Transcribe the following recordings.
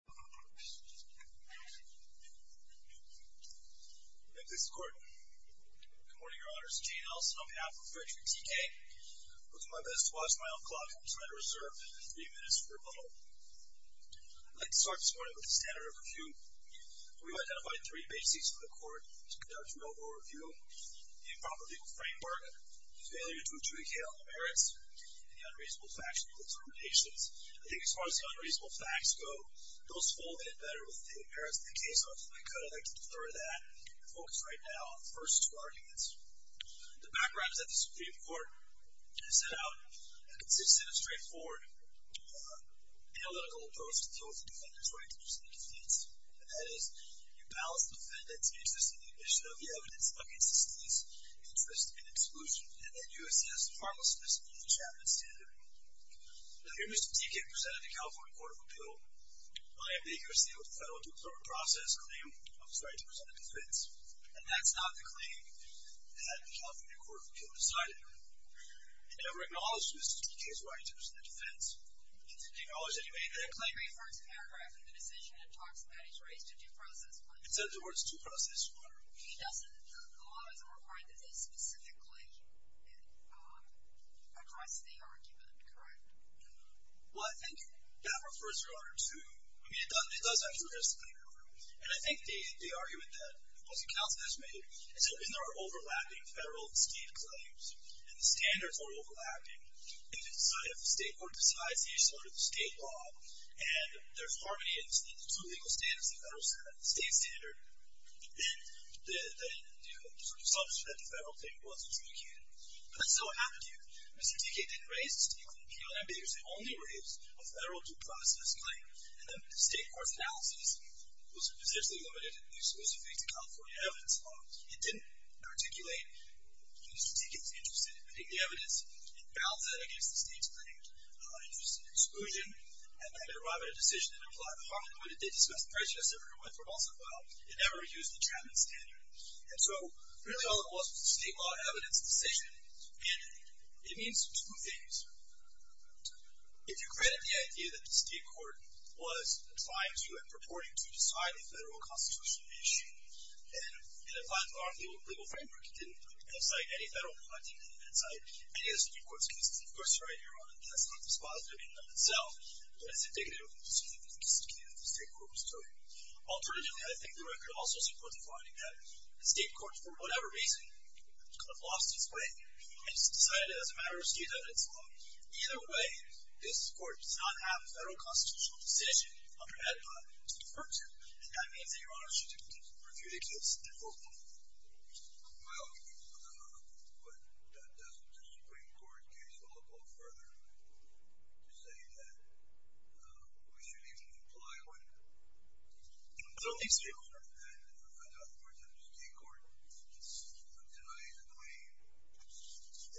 Good morning, Your Honors, I'm Jane Ellison on behalf of Frederick T.K. I'll do my best to watch my own clock and try to reserve three minutes for a little. I'd like to start this morning with the standard of review. We've identified three bases for the court to conduct a noble review. The improper legal framework, the failure to adjudicate all the merits, and the unreasonable factual determinations. I think as far as the unreasonable facts go, those fall in better with the merits of the case. So if I could, I'd like to cover that and focus right now on the first two arguments. The backgrounds that the Supreme Court has set out consist in a straightforward analytical approach to deal with the defendant's right to justice and defiance. And that is, you balance the defendant's interest in the admission of the evidence against the state's interest in exclusion, and then you assume as the final standard. Now here Mr. Thiecke presented the California Court of Appeal by a major sale to federal due process claim of his right to present a defense. And that's not the claim that the California Court of Appeal decided. It never acknowledged Mr. Thiecke's right to present a defense. It didn't acknowledge any way that a claim refers to process. He doesn't, the law doesn't require that they specifically address the argument, correct? Well, I think that refers, Your Honor, to, I mean, it does actually address the claim, and I think the argument that the counsel has made is that when there are overlapping federal and state claims, and the standards are overlapping, and if the state court decides they should go to the state law, and there's harmony in the two legal standards, the federal state standard, then you sort of substitute that the federal claim wasn't replicated. But that's not what happened here. Mr. Thiecke didn't raise a state court appeal, and because he only raised a federal due process claim, and then when the state court's analysis was essentially limited exclusively to California evidence, it didn't articulate Mr. Thiecke's interest in admitting the evidence, it balanced that against the state's claimed interest in exclusion, and then it arrived at a decision that implied the harmony in the way that they went from also filed, it never used the Chapman standard. And so, really all it was was a state law evidence decision, and it means two things. If you credit the idea that the state court was applying to and purporting to decide a federal constitutional issue, and it applied to our legal framework, it didn't incite any federal punting, it didn't incite any of the Supreme Court's cases, and of course, Your Honor, that's not dispositive in and of itself, but it's indicative of the decision that Mr. Thiecke made that the state court was doing. Alternatively, I think the record also supports the finding that the state court, for whatever reason, kind of lost its way, and just decided as a matter of state evidence alone, either way, this court does not have a federal constitutional decision under EDPA to defer to, and that means that Your Honor should continue to review the case and vote on it. Well, but that doesn't mean that the Supreme Court can't stall a vote further to say that we shouldn't even comply with it. I don't think so, Your Honor. And I don't support that the state court denies a claim,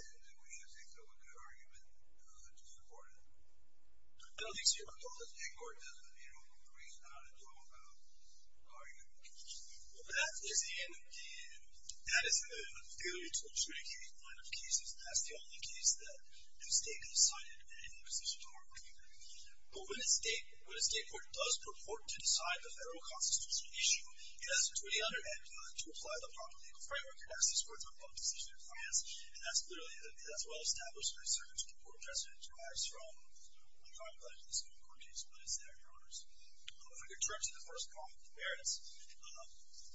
and I wish I could come up with a good argument to support it. I don't think so, Your Honor. Because the state court doesn't, you know, bring it down and talk about arguing Well, but that is in the, that is in the failure to obstruct any one of the cases, and that's the only case that the state could have cited an imposition of arbitration. But when a state, when a state court does purport to decide the federal constitutional issue, it has a duty under EDPA to apply the proper legal framework. It has to support the public decision in France, and that's clearly, that's well established, and it's certain to the court precedent, it derives from, you know, what I'm talking about in the Supreme Court case, but it's there, Your Honors. If I could turn to the first point, the merits,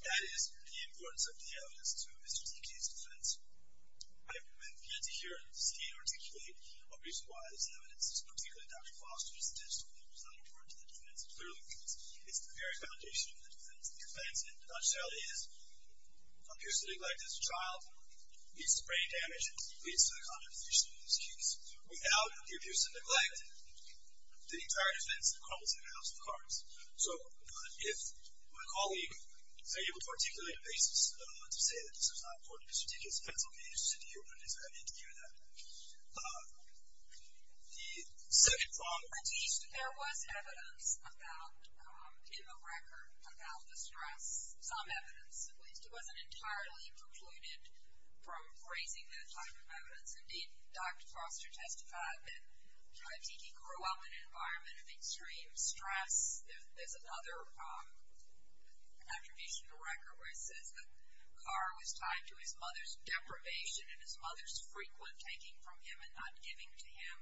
that is the importance of the evidence to Mr. Dickey's defense. I recommend that you hear the state articulate a reason why this evidence, particularly Dr. Foster's, is not important to the defense, clearly because it's the very foundation of the defense, and the defense, in a nutshell, is a person neglected as a child, it's the brain damage, it's the condemnation of these Without the abuse and neglect, the entire defense, it crumbles in a house of cards. So, if my colleague is able to articulate a basis to say that this is not important to Mr. Dickey's defense, I'll be interested to hear what it is. I need to hear that. The second problem, at least, there was evidence about, in the record, about the stress, some evidence, at least it wasn't entirely precluded from raising that type of evidence. Indeed, Dr. Foster testified that Dickey grew up in an environment of extreme stress. There's another attribution to the record where it says that Carr was tied to his mother's deprivation and his mother's frequent taking from him and not giving to him.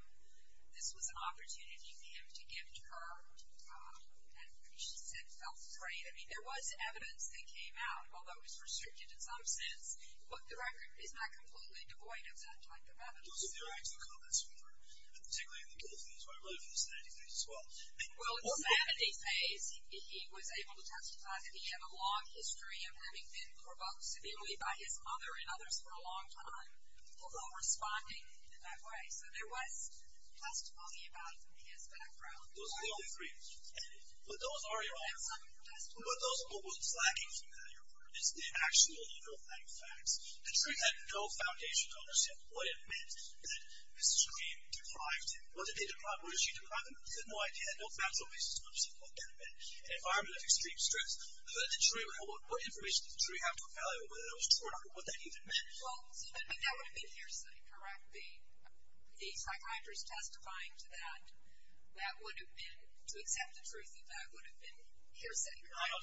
This was an opportunity for him to give to her, and she said felt afraid. I mean, there was evidence that came out, although it was restricted in some sense, but the record is not completely devoid of that type of evidence. Well, in sanity phase, he was able to testify that he had a long history of having been provoked severely by his mother and others for a long time, although responding in that way. So, there was testimony about it from his background. Those are the only three, but those are your arguments. But what was lacking from that, your word, is the actual underlying facts. The jury had no foundation to understand what it meant that Mrs. Green deprived him. What did she deprive him of? They had no idea. They had no factual basis to understand what that meant. An environment of extreme stress. What information did the jury have to evaluate, whether that was true or not, or what that even meant? Well, that would have been hearsay, correct? The psychiatrist testifying to that, that would have been, to accept the truth of that, would have been hearsay, correct?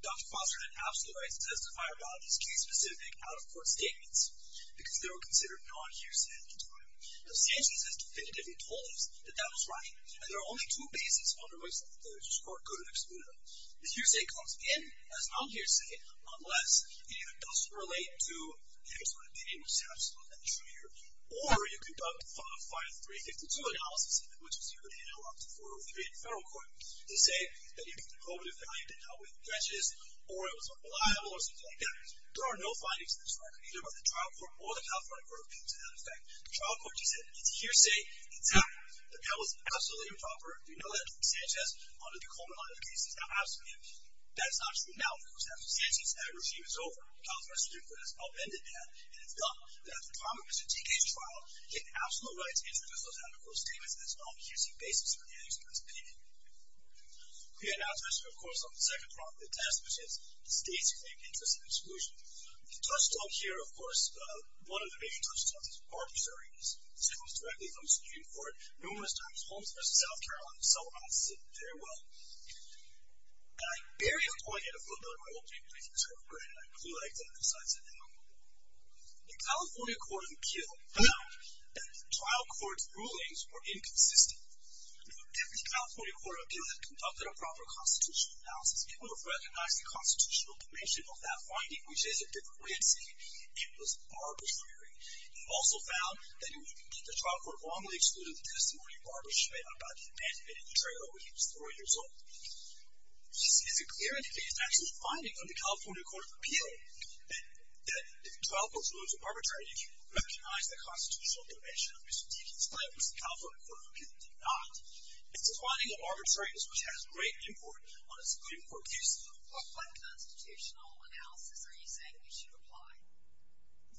Dr. Foster had an absolute right to testify about these case-specific, out-of-court statements, because they were considered non-hearsay at the time. Now, Sanchez has definitively told us that that was right, and there are only two bases under which the court could have excluded them. The hearsay comes in as non-hearsay, unless it either does relate to an external opinion, which is absolutely not the truth here, or you conduct a 5-352 analysis of it, which is usually handled up to 403 in federal court, to say that either the provative value did not weigh the credits, or it was unreliable, or something like that. There are no findings in either of the trial court or the California court of appeals to that effect. The trial court just said it's hearsay, it's accurate, that that was absolutely improper. We know that Sanchez, under the Coleman Law, the case is now absolved. That is not true now, of course. After Sanchez, that regime is over. The California Supreme Court has upended that, and it's done that. At the time of Mr. TK's trial, he had the absolute right to introduce those out-of-court statements as non-hearsay basis for the annex of his opinion. We announce this, of course, on the second part of the test, which is the state's claim to interest and exclusion. The touchstone here, of course, one of the main touchstones is barbershops. It comes directly from the Supreme Court. No one has done it as Holmes v. South Carolina, so I'll sit very well. And I barely appointed a footnote, I won't be making this up, granted I do like the other sides of the aisle. The California court of appeal, the trial court's rulings were inconsistent. If the California court of appeal had conducted a proper constitutional analysis, it would have recognized the constitutional dimension of that finding, which is a different way of saying it was a barber's query. We've also found that the trial court wrongly excluded the testimony of Barber Schmidt about the abandonment of the trailer when he was four years old. Is it clear in his actual finding of the California court of appeal that the trial court's rulings were arbitrary if you recognize the constitutional dimension of Mr. TK's claim, which the California court of appeal did not? It's a finding of arbitrariness which has great import on a Supreme Court case. What kind of constitutional analysis are you saying we should apply?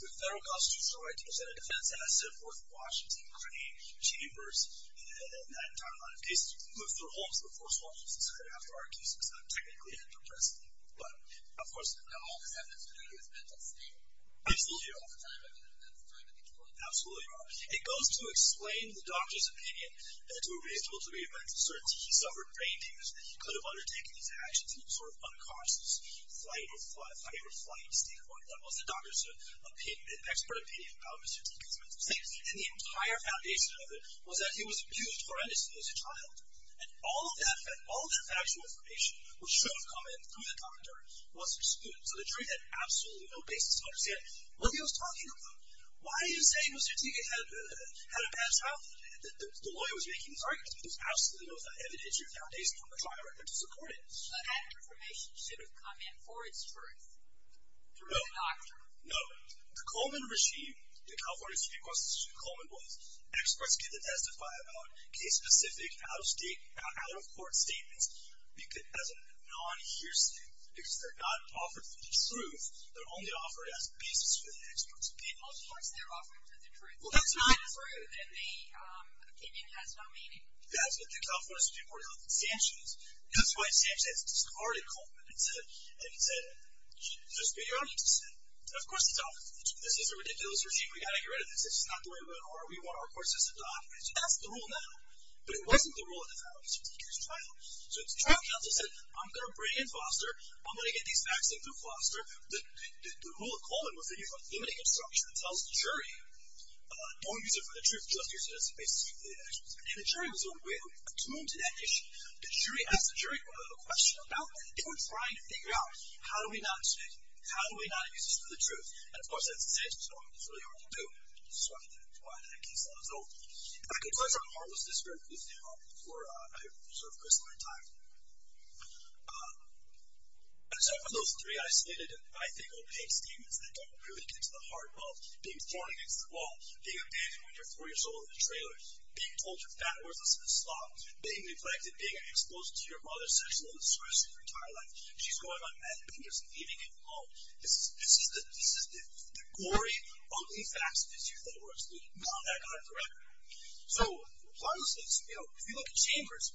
The federal constitutional right to present a defense as set forth in Washington, Crony, Chambers, and that entire line of cases. Mr. Holmes, the first one, was decided after our case because I'm technically under arrest. But, of course, all this evidence that he was mentally stable. Absolutely. All the time, I mean, that's very meticulous. Absolutely wrong. It goes to explain the doctor's opinion that to a reasonable degree of mental certainty, he suffered brain damage. He could have undertaken his actions in some sort of unconscious fight or flight state court. That was the doctor's expert opinion about Mr. TK's mental state. And the entire foundation of it was that he was abused horrendously as a child. And all of that factual information, which should have come in through the doctor, was excluded. So the jury had absolutely no basis to understand what he was talking about. Why is he saying Mr. TK had a bad childhood? The lawyer was making these arguments, but there was absolutely no evidence or foundation from the trial record to support it. But that information should have come in for its truth through the doctor. No. The Coleman regime, the California State Constitution, Coleman was. Experts get to testify about case-specific, out-of-state, out-of-court statements as a non-hearsay. Because they're not offered for the truth. They're only offered as basis for the expert's opinion. Most courts, they're offered for the truth. And the opinion has no meaning. That's what the California Supreme Court held in Sanchez. That's why Sanchez discarded Coleman. And he said, just be honest. Of course it's a ridiculous regime. We got to get rid of this. It's not the way we want our court system to operate. So that's the rule now. But it wasn't the rule at the time of Mr. TK's trial. So the trial counsel said, I'm going to bring in Foster. I'm going to get these facts in through Foster. The rule of Coleman was that he was emitting an obstruction that tells the jury, don't use it for the truth. Just use it as a basis for the expert's opinion. And the jury was on with. To move to that issue, the jury asked the jury a question about that. They were trying to figure out, how do we not use it? How do we not use this for the truth? And of course, as Sanchez was talking, it's really hard to do. So that's why that case was over. I can close on a harmless disparate case now for a sort of crystalline time. And so for those three isolated and I think opaque statements that don't really get to the heart of being thrown against the wall, being abandoned when you're four years old in a trailer, being told you're fat worthless and a slob, being neglected, being an explosion to your mother's sexual discretion for your entire life, she's going on meth and being just leaving it alone. This is the glory, ugly facts of his youth that were excluded. Not that kind of direct. So if you look at Chambers,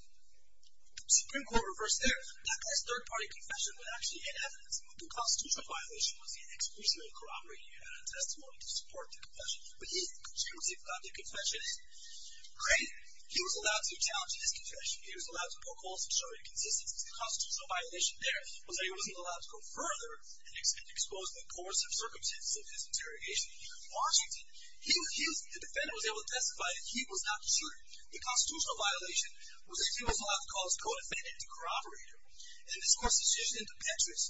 the Supreme Court reversed there. That guy's third party confession was actually in evidence. The constitutional violation was he exclusively corroborating it out of testimony to support the confession. But he's the conservative about the confession. Granted, he was allowed to challenge his confession. He was allowed to poke holes and show inconsistency. The constitutional violation there was that he wasn't allowed to go further and expose the coercive circumstances of his interrogation. Washington, the defendant was able to testify that he was not the shooter. The constitutional violation was that he was allowed to call his co-defendant the corroborator. And this, of course, is used in the Petrus.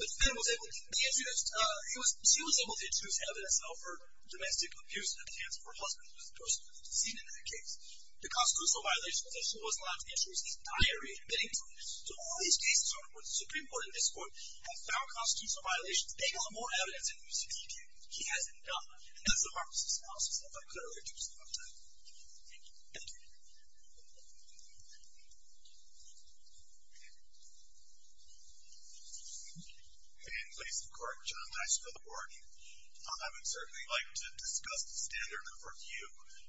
The defendant was able to, she was able to introduce evidence of her domestic abuse and abuse of her husband, who was seen in that case. The constitutional violation was that she was allowed to introduce his diary and bedding to him. So all these cases are, the Supreme Court and this court have found constitutional violations. They've got more evidence than we've seen yet. He hasn't done it. And that's a marvelous analysis that I could only do for some time. Thank you. In place of court, John Dice for the board. I would certainly like to discuss the standard of review.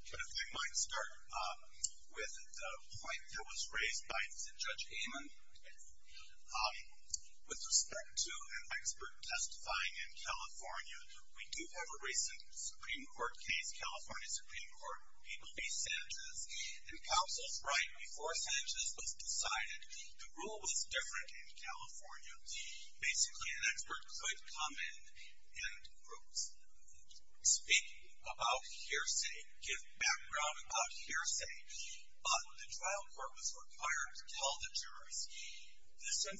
But if I might start with the point that was raised by Judge Amon. With respect to an expert testifying in California, we do have a recent Supreme Court case, California Supreme Court. People be Sanchez. And counsel's right, before Sanchez was decided, the rule was different in California. Basically, an expert could come in and speak about hearsay, give background about hearsay. But the trial court was required to tell the jurors, this information is only coming in to support the expert's opinion. You may not rely on this evidence to prove the truth of the matter. And Sanchez, the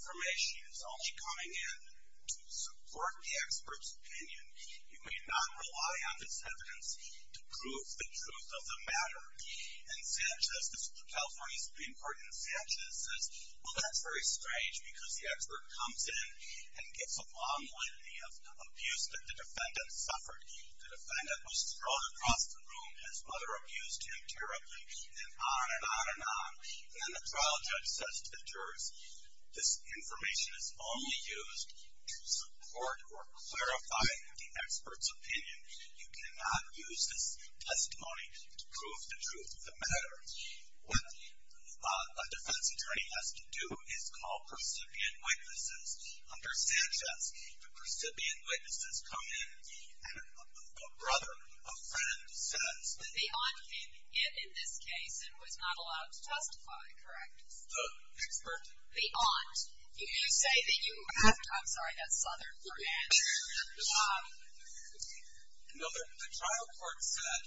California Supreme Court, and Sanchez says, well, that's very strange because the expert comes in and gets a long list of abuse that the defendant suffered. The defendant was thrown across the room, his mother abused him terribly, and on and on and on. And then the trial judge says to the jurors, this information is only used to support or clarify the expert's opinion. You cannot use this testimony to prove the truth of the matter. What a defense attorney has to do is call percipient witnesses. Under Sanchez, the percipient witnesses come in and a brother, a friend says. The aunt came to get in this case and was not allowed to testify, correct? The expert? The aunt. You say that you have to, I'm sorry, that's southern French. No, the trial court said,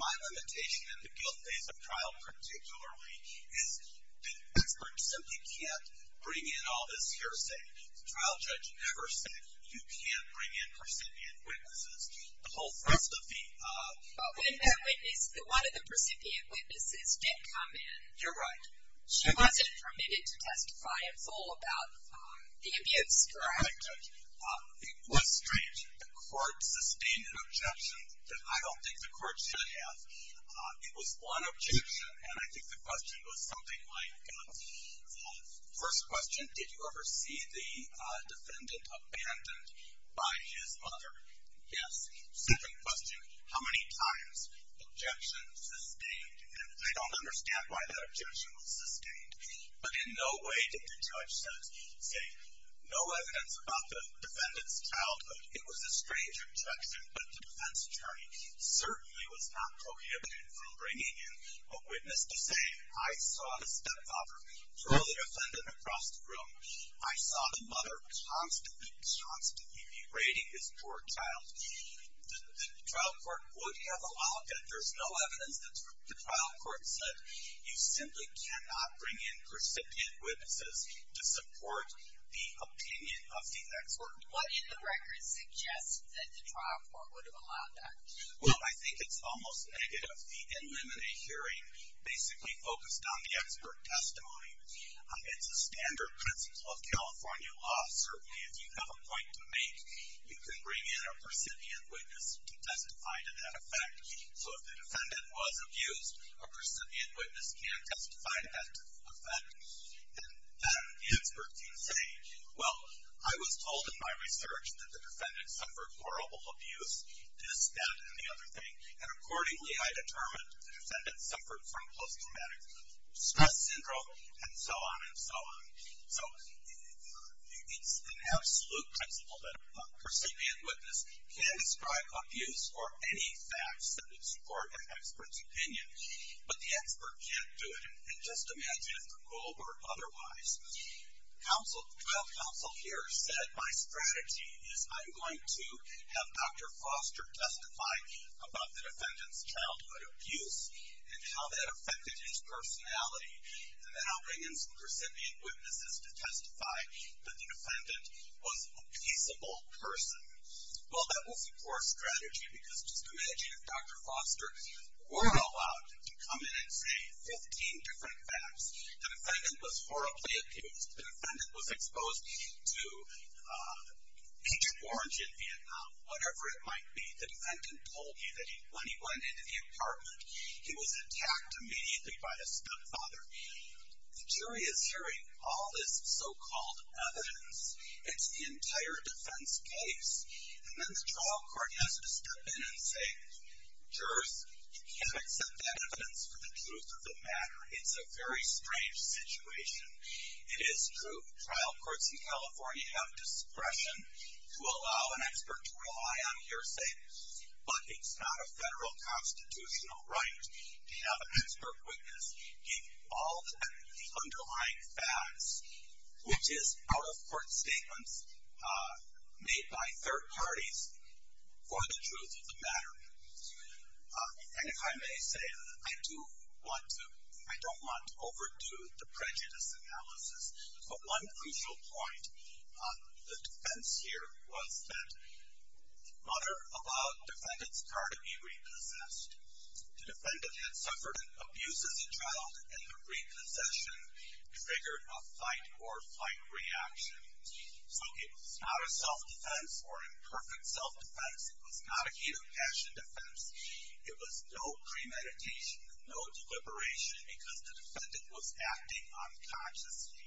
my limitation in the guilt phase of trial, particularly, is the expert simply can't bring in all this hearsay. The trial judge never said you can't bring in percipient witnesses. The whole rest of the. But when that witness, one of the percipient witnesses did come in. You're right. She wasn't permitted to testify in full about the abuse, correct? Correct. It was strange. The court sustained an objection that I don't think the court should have. It was one objection, and I think the question was something like, first question, did you ever see the defendant abandoned by his mother? Yes. Second question, how many times? Objection sustained, and I don't understand why that objection was sustained, but in no way did the judge say, no evidence about the defendant's childhood. It was a strange objection, but the defense attorney certainly was not prohibited from bringing in a witness to say, I saw the stepfather throw the defendant across the room. I saw the mother constantly, constantly berating this poor child. The trial court would have allowed that. There's no evidence that the trial court said you simply cannot bring in percipient witnesses to support the opinion of the expert. What in the record suggests that the trial court would have allowed that? Well, I think it's almost negative. The NLMNA hearing basically focused on the expert testimony. It's a standard principle of California law. Certainly, if you have a point to make, you can bring in a percipient witness to testify to that effect. So, if the defendant was abused, a percipient witness can testify to that effect, and then the expert can say, well, I was told in my research that the defendant suffered horrible abuse. This, that, and the other thing, and accordingly, I determined the defendant suffered from post-traumatic stress syndrome, and so on, and so on. So, it's an absolute principle that a percipient witness can describe abuse or any facts that would support an expert's opinion, but the expert can't do it, and just imagine if the rule were otherwise. The trial counsel here said, my strategy is I'm going to have Dr. Foster testify about the defendant's childhood abuse and how that affected his personality, and then I'll bring in some percipient witnesses to testify that the defendant was a peaceable person. Well, that was a poor strategy, because just imagine if Dr. Foster weren't allowed to come in and say 15 different facts. The defendant was horribly abused. The whatever it might be, the defendant told me that when he went into the apartment, he was attacked immediately by a stepfather. The jury is hearing all this so-called evidence. It's the entire defense case, and then the trial court has to step in and say, jurors, you can't accept that evidence for the truth of the matter. It's a very strange situation. It is true trial courts in California have discretion to allow an expert to rely on hearsay, but it's not a federal constitutional right to have an expert witness give all the underlying facts, which is out-of-court statements made by third parties for the truth of the matter, and if I may say, I do want to, I don't want to overdo the prejudice analysis, but one crucial point on the defense here was that mother allowed defendant's car to be repossessed. The defendant had suffered an abuse as a child, and the repossession triggered a fight or flight reaction, so it was not a self-defense or imperfect self-defense. It was not a heat passion defense. It was no premeditation, no deliberation, because the defendant was acting unconsciously,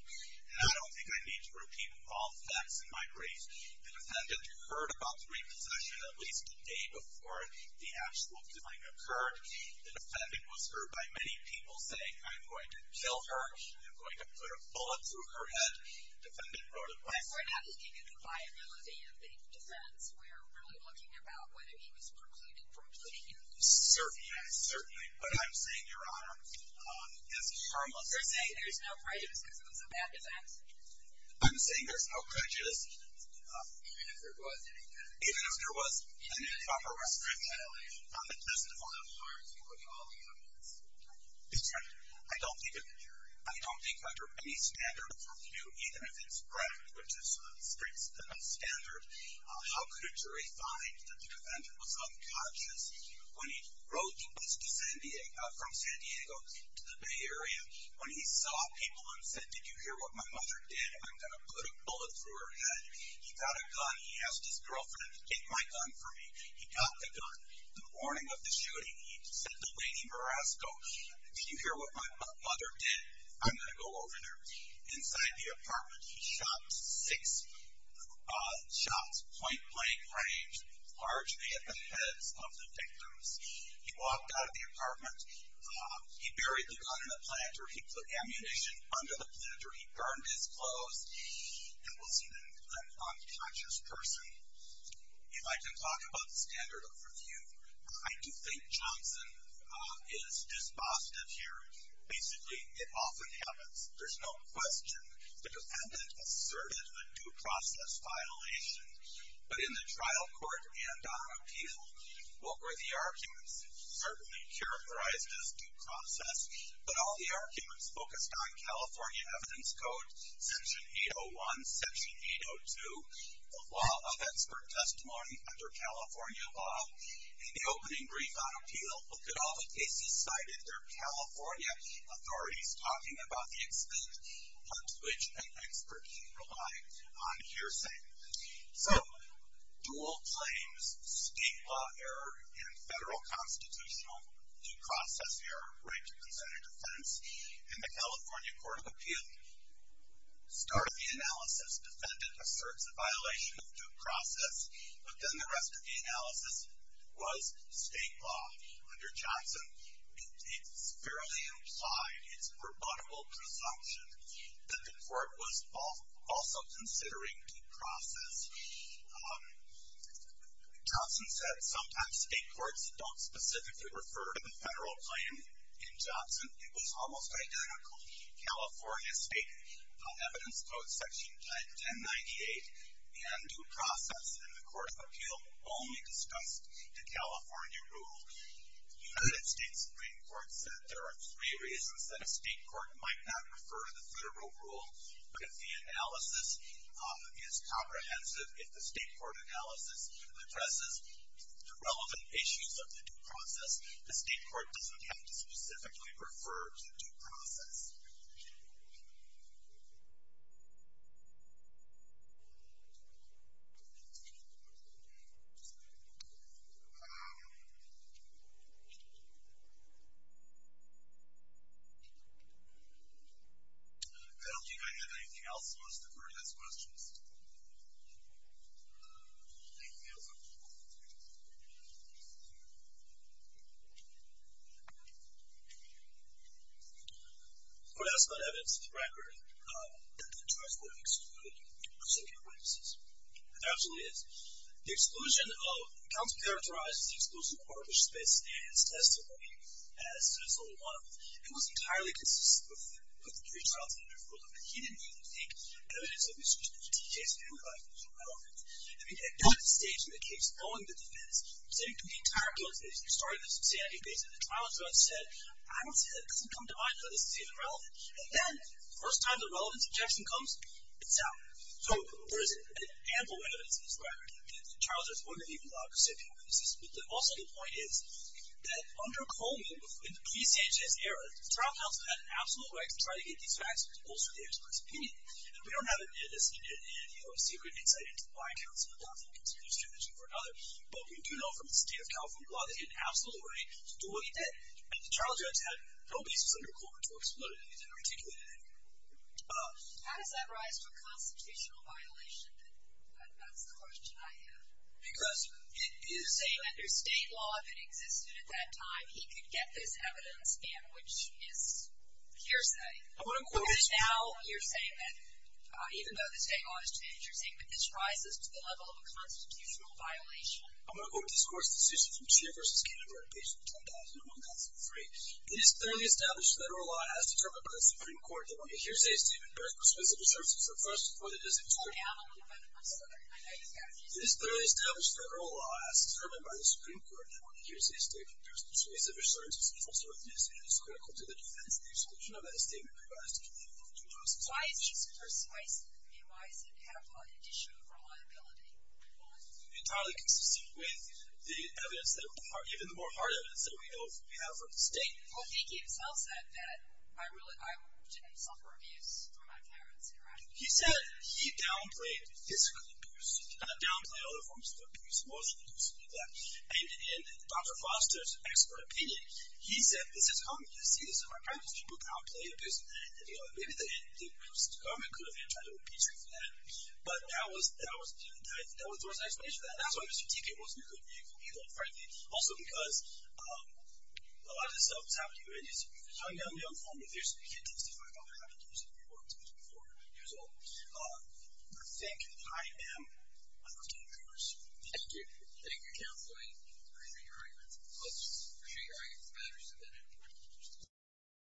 and I don't think I need to repeat all the facts in my brief. The defendant heard about the repossession at least a day before the actual killing occurred. The defendant was heard by many people saying, I'm going to kill her. I'm going to put a bullet through her head. The defendant wrote a letter. We're not looking at the viability of the defense. We're really looking about whether he was precluded from killing her. Certainly, yes, certainly, but I'm saying, Your Honor, it's harmless. You're saying there's no prejudice because it was a bad defense? I'm saying there's no prejudice. Even if there was any prejudice? Even if there was any proper restriction. Even if there was any violation? It doesn't apply to all the arguments. Exactly. I don't think, I don't think under any standard of review, even if it's Brecht, which is a strict standard, how could a jury find that the defendant was unconscious when he wrote this from San Diego to the Bay Area, when he saw people and said, did you hear what my mother did? I'm going to put a bullet through her head. He got a gun. He asked his girlfriend to take my gun for me. He got the gun. The morning of the shooting, he said to Lady Marasco, did you hear what my mother did? I'm going to go over there. Inside the apartment, he shot six shots, point blank range, largely at the heads of the victims. He walked out of the apartment. He buried the gun in the planter. He put ammunition under the planter. He burned his clothes and was an unconscious person. If I can talk about the standard of review, I do think Johnson is dispositive here. Basically, it often happens, there's no question, the defendant asserted a due process violation. But in the trial court and on appeal, what were the arguments? Certainly characterized as due process, but all the arguments focused on California Evidence Code, Section 801, Section 802, the law of expert testimony under California law. In the opening brief on appeal, look at all the cases cited. They're California authorities talking about the extent to which an expert can rely on hearsay. So, dual claims, state law error, and federal constitutional due process error, right to consent or defense. In the California Court of Appeal, start of the analysis, defendant asserts a violation of due process. But then the rest of the analysis was state law. Under Johnson, it's fairly implied, it's a rebuttable presumption, that the court was also considering due process. Johnson said sometimes state courts don't specifically refer to the federal claim in Johnson. It was almost identical. California State Evidence Code, Section 1098, the undue process in the Court of Appeal only discussed the California rule. United States Supreme Court said there are three reasons that a state court might not refer to the federal rule. But if the analysis is comprehensive, if the state court analysis addresses the relevant issues of the due process, the state court doesn't have to specifically refer to due process. I don't think I have anything else, so I'll just defer to those questions. Thank you. Could I ask about evidence to the record that the judge would have excluded the Supreme Court in this case? There absolutely is. The exclusion of, the counsel characterized the exclusion of garbage space in his testimony as there's only one of them. It was entirely consistent with the three trials that he referred to, but he didn't even think evidence of exclusion in this case would be relevant. I mean, at no stage in the case, knowing the defense, it seemed to be entirely consistent. You're starting to see evidence, and the trial judge said, I don't see that. It doesn't come to mind. I don't think this is even relevant. And then, the first time the relevance objection comes, it's out. So, there is an ample evidence in this record. I mean, the trial judge wouldn't have even thought to sit through this. But also, the point is that under Coleman, in the pre-stage of his era, the trial counsel had an absolute right to try to get these facts and to bolster the expert's opinion. And we don't have a secret insight into why counsel would often consider this tributary for another. But we do know from the state of California law that he had an absolute right to do what he did. And the trial judge had no basis under Coleman to exclude it. He didn't articulate it anywhere. How does that rise to a constitutional violation? That's the question I have. Because it is... Well, under state law, if it existed at that time, he could get this evidence in, which is hearsay. I'm going to quote... Now, you're saying that, even though the state law is to be interesting, but this rises to the level of a constitutional violation. I'm going to quote this court's decision from Scheer v. Canberra, page 10,001, Clause 3. It is clearly established federal law as determined by the Supreme Court that when a hearsay is taken, it bears prospective assertion for the first before it is excluded. Hold down a little bit. I'm sorry. It is clearly established federal law as determined by the Supreme Court that when a hearsay is taken, it bears persuasive assertion for the first before it is excluded. It is critical to the defense of the exclusion of any statement provided to the community before it is excluded. Why is he so persuasive to me? Why does it have an issue of reliability? Well, it's entirely consistent with the evidence, even the more hard evidence, that we know we have from the state. Well, he himself said that I didn't suffer abuse from my parents, correct? He said he downplayed physical abuse. He did not downplay other forms of abuse, emotional abuse, things like that. And in Dr. Foster's expert opinion, he said, this is common. You see this in our practice. People downplay abuse. Maybe the government could have been trying to impeach him for that. But that was the worst explanation for that. That's why Mr. Teepit wasn't a good vehicle, even, frankly. Also because a lot of this stuff was happening to him in his young, young form of abuse. You can't testify about how he deals with people who are 20, 40, 40 years old. I think I am a victim of abuse. Thank you. Thank you, counsel. I appreciate your argument. I appreciate your argument.